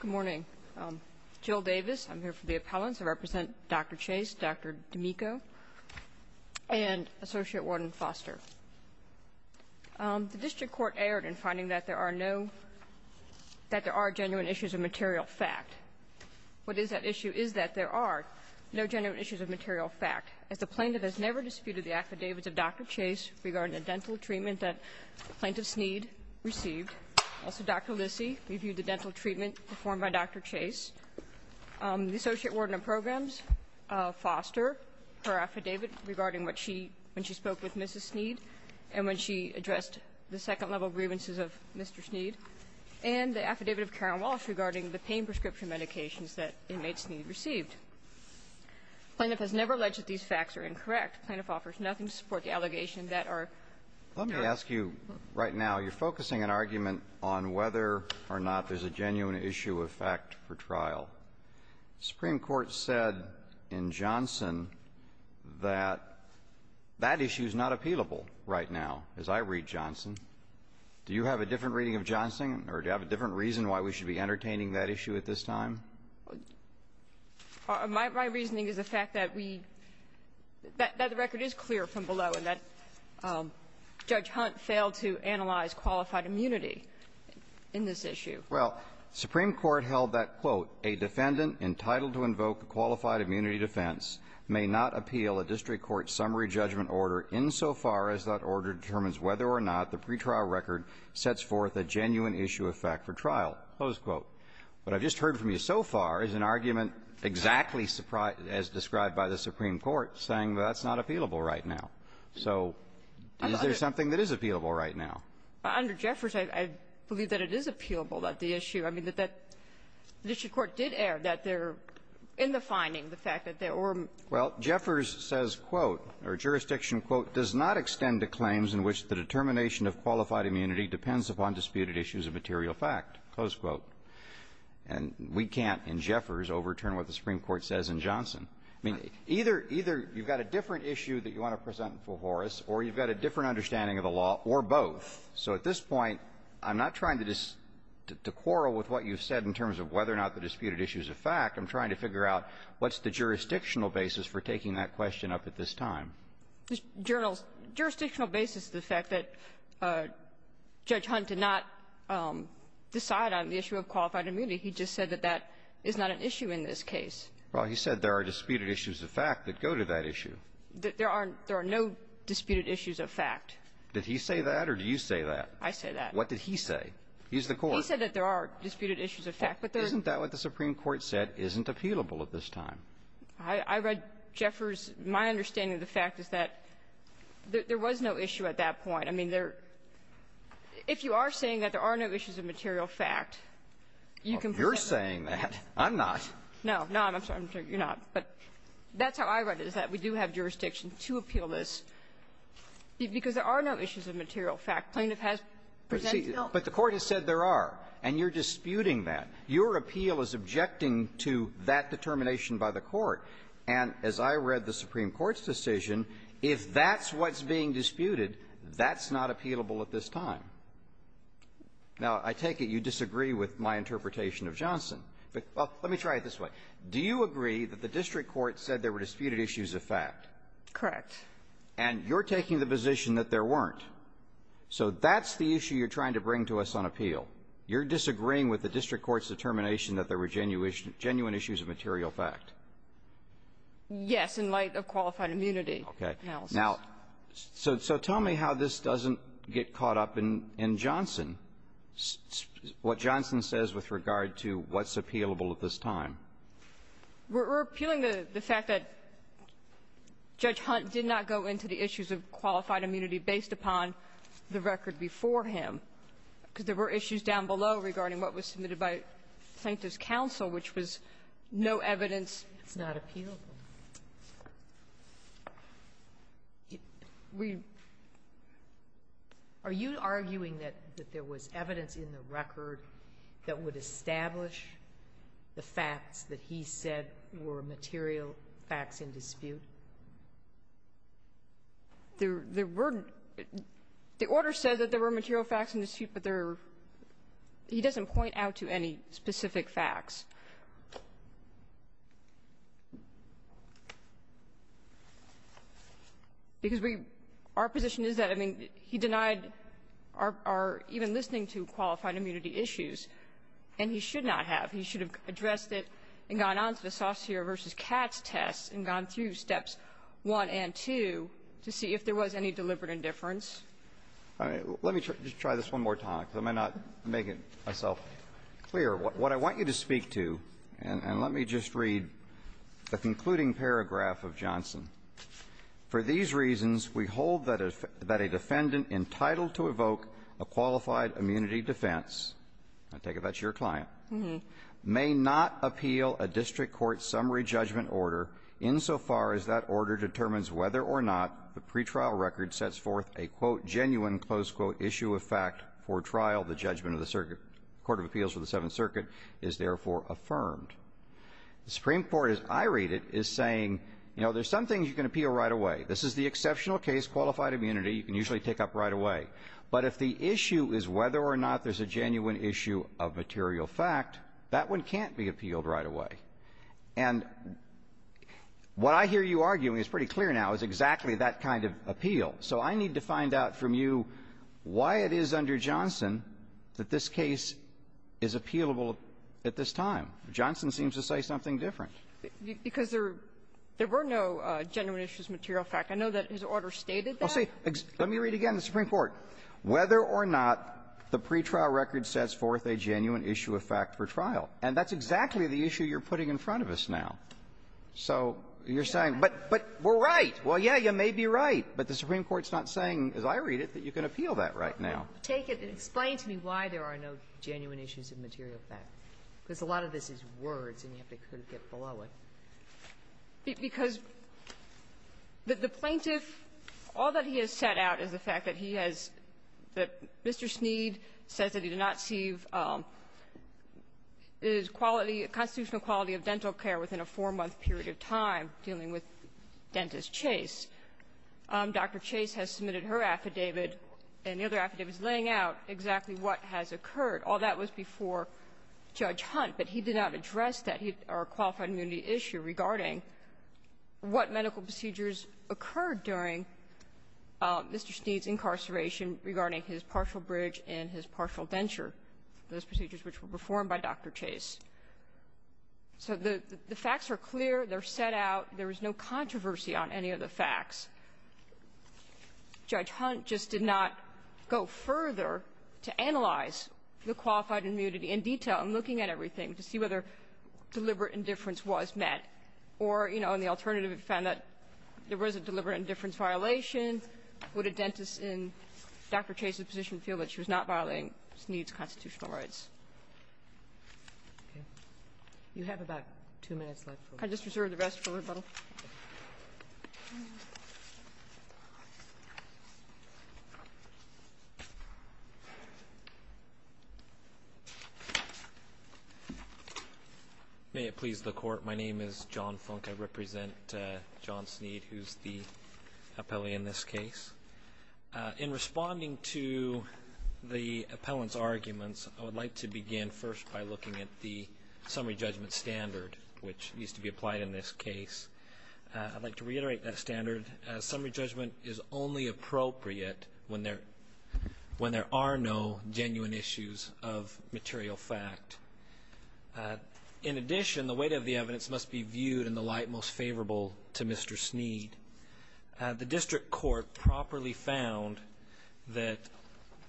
Good morning. Jill Davis, I'm here for the appellants. I represent Dr. Chase, Dr. D'Amico, and Associate Warden Foster. The district court erred in finding that there are no – that there are genuine issues of material fact. What is at issue is that there are no genuine issues of material fact, as the plaintiff has never disputed the affidavits of Dr. Chase regarding the dental treatment that the plaintiff Sneed received. Also, Dr. Lissy reviewed the dental treatment performed by Dr. Chase. The Associate Warden of Programs, Foster, her affidavit regarding what she – when she spoke with Mrs. Sneed and when she addressed the second-level grievances of Mr. Sneed, and the affidavit of Karen Walsh regarding the pain prescription medications that inmate Sneed received. The plaintiff has never alleged that these facts are incorrect. The plaintiff offers nothing to support the allegation that our – Let me ask you, right now, you're focusing an argument on whether or not there's a genuine issue of fact for trial. The Supreme Court said in Johnson that that issue is not appealable right now, as I read Johnson. Do you have a different reading of Johnson, or do you have a different reason why we should be entertaining that issue at this time? My – my reasoning is the fact that we – that the record is clear from below and that Judge Hunt failed to analyze qualified immunity in this issue. Well, Supreme Court held that, quote, a defendant entitled to invoke a qualified immunity defense may not appeal a district court summary judgment order insofar as that order determines whether or not the pretrial record sets forth a genuine issue of fact for trial, close quote. What I've just heard from you so far is an argument exactly as described by the Supreme Court saying that that's not appealable right now. So is there something that is appealable right now? Under Jeffers, I believe that it is appealable that the issue – I mean, that that district court did air that they're in the finding, the fact that there were – Well, Jeffers says, quote, or jurisdiction, quote, does not extend to claims in which the determination of qualified immunity depends upon disputed issues of material fact, close quote. And we can't, in Jeffers, overturn what the Supreme Court says in Johnson. I mean, either – either you've got a different issue that you want to present before us, or you've got a different understanding of the law, or both. So at this point, I'm not trying to quarrel with what you've said in terms of whether or not the disputed issue is a fact. I'm trying to figure out what's the jurisdictional basis for taking that question up at this time. The journal's – jurisdictional basis is the fact that Judge Hunt did not decide on the issue of qualified immunity. He just said that that is not an issue in this case. Well, he said there are disputed issues of fact that go to that issue. There are – there are no disputed issues of fact. Did he say that, or do you say that? I say that. What did he say? He's the court. He said that there are disputed issues of fact, but there are – Isn't that what the Supreme Court said isn't appealable at this time? I read Jeffers' – my understanding of the fact is that there was no issue at that point. I mean, there – if you are saying that there are no issues of material fact, you can present that. You're saying that. I'm not. No. No, I'm sorry. I'm sorry. You're not. But that's how I read it, is that we do have jurisdiction to appeal this. Because there are no issues of material fact. Plaintiff has presented it. But the Court has said there are, and you're disputing that. Your appeal is objecting to that determination by the Court. And as I read the Supreme Court's decision, if that's what's being disputed, that's not appealable at this time. Now, I take it you disagree with my interpretation of Johnson. But let me try it this way. Do you agree that the district court said there were disputed issues of fact? Correct. And you're taking the position that there weren't. So that's the issue you're trying to bring to us on appeal. You're disagreeing with the district court's determination that there were genuine issues of material fact. Yes, in light of qualified immunity analysis. Okay. Now, so tell me how this doesn't get caught up in Johnson, what Johnson says with regard to what's appealable at this time. We're appealing the fact that Judge Hunt did not go into the issues of qualified below regarding what was submitted by Plaintiff's counsel, which was no evidence. It's not appealable. We are you arguing that there was evidence in the record that would establish the facts that he said were material facts in dispute? There weren't. The order says that there were material facts in dispute, but there are he doesn't point out to any specific facts. Because we our position is that I mean, he denied our even listening to qualified immunity issues, and he should not have. He should have addressed it and gone on to the Saucere versus Katz test and gone through steps one and two to see if there was any deliberate indifference. Let me just try this one more time because I may not make it myself clear. What I want you to speak to, and let me just read the concluding paragraph of Johnson. For these reasons, we hold that a defendant entitled to evoke a qualified immunity defense, I take it that's your client, may not appeal a district court summary judgment order insofar as that order determines whether or not the pretrial record sets forth a quote genuine close quote issue of fact for trial. The judgment of the circuit Court of Appeals for the Seventh Circuit is therefore affirmed. The Supreme Court, as I read it, is saying, you know, there's some things you can appeal right away. This is the exceptional case qualified immunity. You can usually take up right away. But if the issue is whether or not there's a genuine issue of material fact, that one can't be appealed right away. And what I hear you arguing is pretty clear now is exactly that kind of appeal. So I need to find out from you why it is under Johnson that this case is appealable at this time. Johnson seems to say something different. Because there were no genuine issues of material fact. I know that his order stated that. Well, see, let me read again the Supreme Court. Whether or not the pretrial record sets forth a genuine issue of fact for trial. And that's exactly the issue you're putting in front of us now. So you're saying, but we're right. Well, yeah, you may be right. But the Supreme Court's not saying, as I read it, that you can appeal that right now. Take it and explain to me why there are no genuine issues of material fact. Because a lot of this is words, and you have to kind of get below it. Because the plaintiff, all that he has set out is the fact that he has the Mr. Sneed says that he did not see his quality, constitutional quality of dental care within a four-month period of time dealing with Dentist Chase. Dr. Chase has submitted her affidavit, and the other affidavit is laying out exactly what has occurred. All that was before Judge Hunt, but he did not address that or qualified immunity issue regarding what medical procedures occurred during Mr. Sneed's incarceration regarding his partial bridge and his partial denture, those procedures which were performed by Dr. Chase. So the facts are clear. They're set out. There is no controversy on any of the facts. Judge Hunt just did not go further to analyze the qualified immunity in detail in looking at everything to see whether deliberate indifference was met, or, you know, in the alternative he found that there was a deliberate indifference violation. Would a dentist in Dr. Chase's position feel that she was not violating Sneed's constitutional rights? You have about two minutes left. Can I just reserve the rest for rebuttal? May it please the Court, my name is John Funk. I represent John Sneed, who's the appellee in this case. In responding to the appellant's arguments, I would like to begin first by looking at the summary judgment standard, which needs to be reviewed. I'd like to reiterate that standard. Summary judgment is only appropriate when there are no genuine issues of material fact. In addition, the weight of the evidence must be viewed in the light most favorable to Mr. Sneed. The District Court properly found that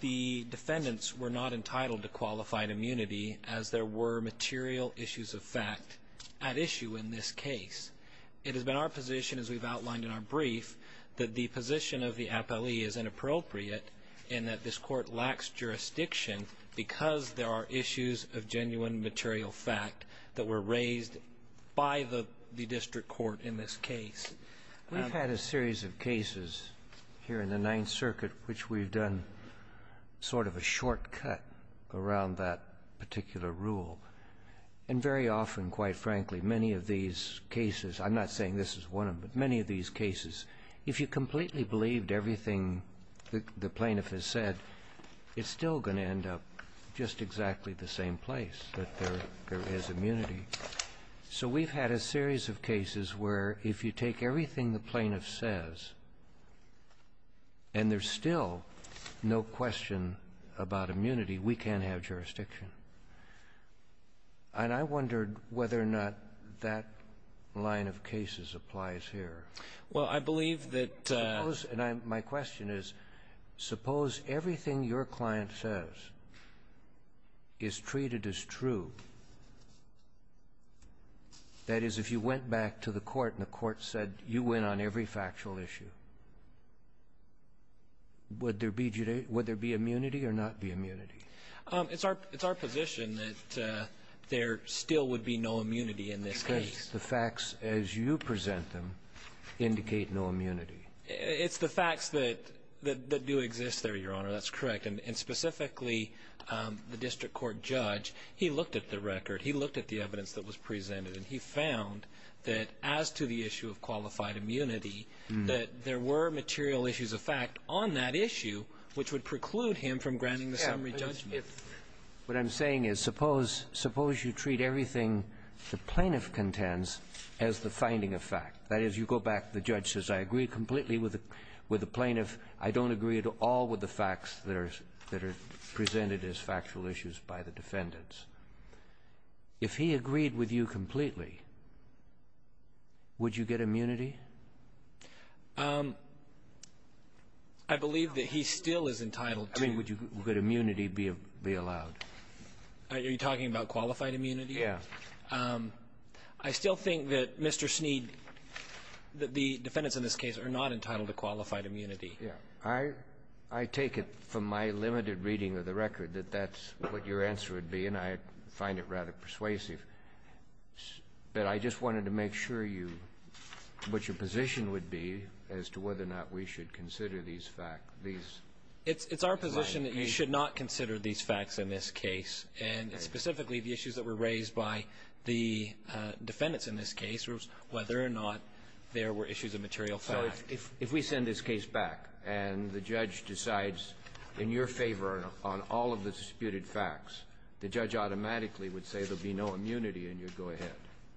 the defendants were not entitled to qualified immunity as there were material issues of fact at issue in this case. It has been our position, as we've outlined in our brief, that the position of the appellee is inappropriate and that this Court lacks jurisdiction because there are issues of genuine material fact that were raised by the District Court in this case. We've had a series of cases here in the Ninth Circuit which we've done sort of a shortcut around that particular rule. And very often, quite frankly, many of these cases, I'm not saying this is one of them, but many of these cases, if you completely believed everything the plaintiff has said, it's still going to end up just exactly the same place, that there is immunity. So we've had a series of cases where if you take everything the plaintiff says, and there's still no question about immunity, we can't have jurisdiction. And I wondered whether or not that line of cases applies here. Well, I believe that the ---- Suppose my question is, suppose everything your client says is treated as true, that is, if you went back to the Court and the Court said you win on every factual issue, would there be immunity or not be immunity? It's our position that there still would be no immunity in this case. Because the facts as you present them indicate no immunity. It's the facts that do exist there, Your Honor. That's correct. And specifically, the District Court judge, he looked at the record, he looked at the evidence that was presented, and he found that as to the issue of qualified immunity, that there were material issues of fact on that issue which would preclude him from granting the summary judgment. What I'm saying is, suppose you treat everything the plaintiff contends as the finding of fact, that is, you go back, the judge says, I agree completely with the plaintiff. I don't agree at all with the facts that are presented as factual issues by the defendants. If he agreed with you completely, would you get immunity? I believe that he still is entitled to the immunity be allowed. Are you talking about qualified immunity? Yes. I still think that Mr. Sneed, the defendants in this case, are not entitled to qualified immunity. I take it from my limited reading of the record that that's what your answer would be, and I find it rather persuasive. But I just wanted to make sure you what your position would be as to whether or not we should consider these facts, these findings. It's our position that you should not consider these facts in this case, and specifically, the issues that were raised by the defendants in this case was whether or not there were issues of material fact. So if we send this case back, and the judge decides in your favor on all of the disputed facts, the judge automatically would say there would be no immunity, and you'd go ahead.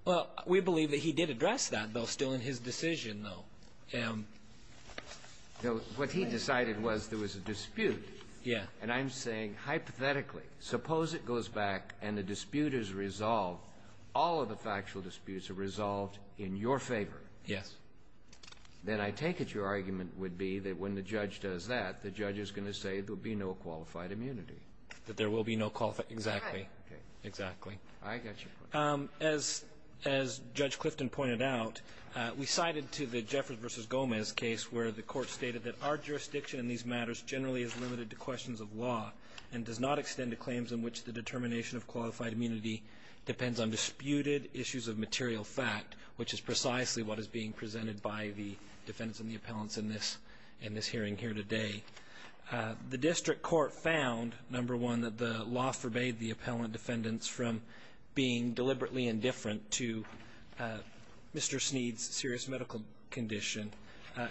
Well, we believe that he did address that, though, still in his decision, though. What he decided was there was a dispute. Yes. And I'm saying, hypothetically, suppose it goes back and the dispute is resolved, all of the factual disputes are resolved in your favor. Yes. Then I take it your argument would be that when the judge does that, the judge is going to say there would be no qualified immunity. That there will be no qualified. Exactly. Exactly. I got you. As Judge Clifton pointed out, we cited to the Jeffers v. Gomez case where the court stated that our jurisdiction in these matters generally is limited to questions of law and does not extend to claims in which the determination of qualified immunity depends on disputed issues of material fact, which is precisely what is being presented by the defendants and the appellants in this hearing here today. The district court found, number one, that the law forbade the appellant defendants from being deliberately indifferent to Mr. Sneed's serious medical condition.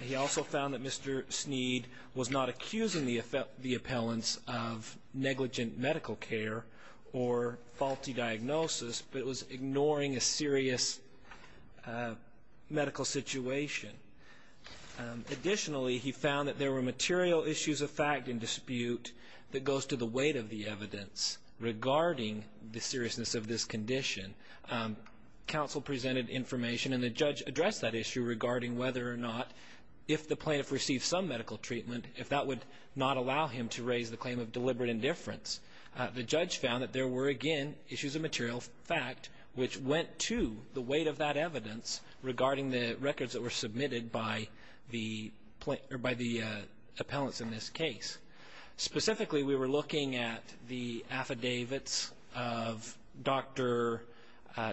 He also found that Mr. Sneed was not accusing the appellants of negligent medical care or faulty diagnosis, but was ignoring a serious medical situation. Additionally, he found that there were material issues of fact in dispute that goes to the weight of the evidence regarding the seriousness of this condition. Counsel presented information and the judge addressed that issue regarding whether or not if the plaintiff received some medical treatment, if that would not allow him to raise the claim of deliberate indifference. The judge found that there were, again, issues of material fact which went to the weight of that evidence regarding the records that were submitted by the appellants in this case. Specifically we were looking at the affidavits of Dr.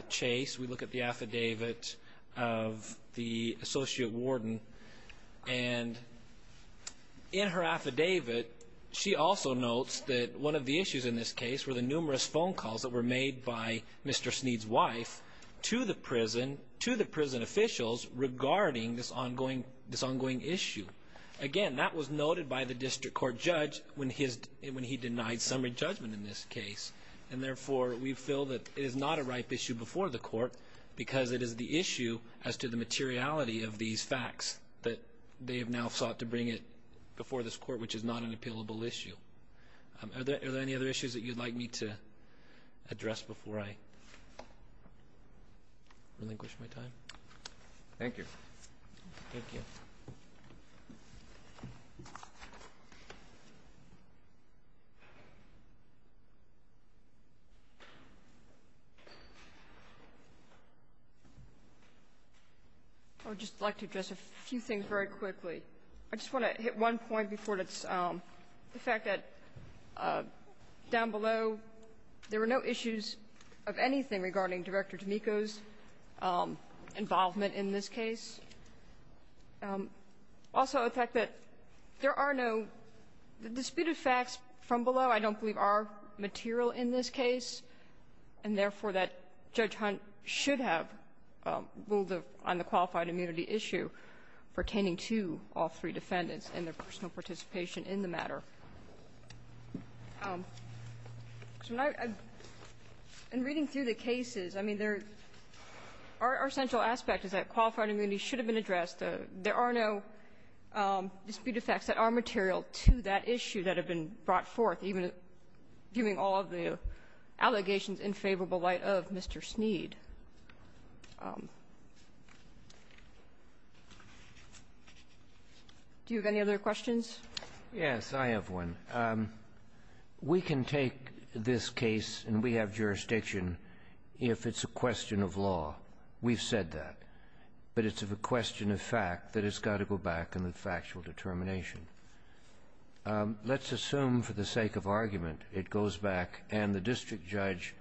Chase. We look at the affidavit of the associate warden, and in her affidavit she also notes that one of the issues in this case were the numerous phone calls that were made by Mr. Sneed's wife to the prison officials regarding this ongoing issue. Again, that was noted by the district court judge when he denied summary judgment in this case, and therefore we feel that it is not a ripe issue before the court because it is the issue as to the materiality of these facts that they have now sought to bring it before this court, which is not an appealable issue. Are there any other issues that you would like me to address before I relinquish my time? Thank you. Thank you. I would just like to address a few things very quickly. I just want to hit one point before this, the fact that down below there were no issues of anything regarding Director D'Amico's involvement in this case. Also the fact that there are no disputed facts from below, I don't believe, are material in this case, and therefore that Judge Hunt should have ruled on the qualified immunity issue pertaining to all three defendants and their personal participation in the matter. In reading through the cases, I mean, there are essential aspects that qualified immunity should have been addressed. There are no disputed facts that are material to that issue that have been brought forth, even viewing all of the allegations in favorable light of Mr. Sneed. Do you have any other questions? Yes, I have one. We can take this case, and we have jurisdiction, if it's a question of law. We've said that. But it's a question of fact that has got to go back in the factual determination. Let's assume, for the sake of argument, it goes back and the district judge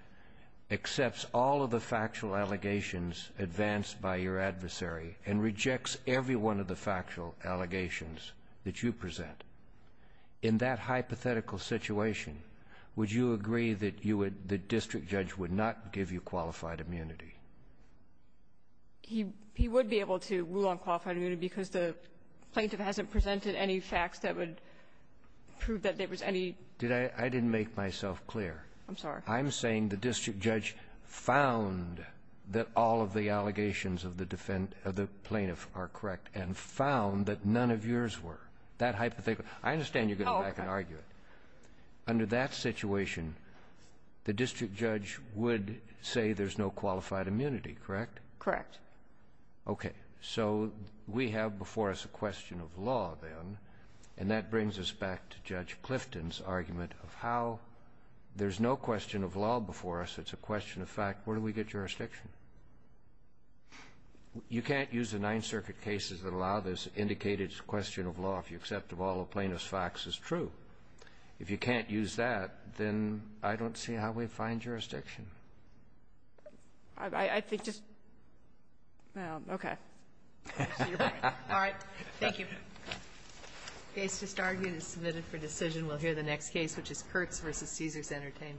accepts all of the factual allegations advanced by your adversary and rejects every one of the factual allegations that you present. In that hypothetical situation, would you agree that you would the district judge would not give you qualified immunity? He would be able to rule on qualified immunity because the plaintiff hasn't presented any facts that would prove that there was any ---- Did I? I didn't make myself clear. I'm sorry. I'm saying the district judge found that all of the allegations of the defendant or the plaintiff are correct and found that none of yours were. That hypothetical ---- I understand you're going to go back and argue it. Oh, okay. Under that situation, the district judge would say there's no qualified immunity, correct? Correct. Okay. So we have before us a question of law, then, and that brings us back to Judge Clifton's argument of how there's no question of law before us. It's a question of fact. Where do we get jurisdiction? You can't use the Ninth Circuit cases that allow this, indicate it's a question of law if you accept all the plaintiff's facts as true. If you can't use that, then I don't see how we find jurisdiction. I think just ---- Okay. All right. Thank you. The case just argued is submitted for decision. We'll hear the next case, which is Kurtz v. Caesars Entertainment.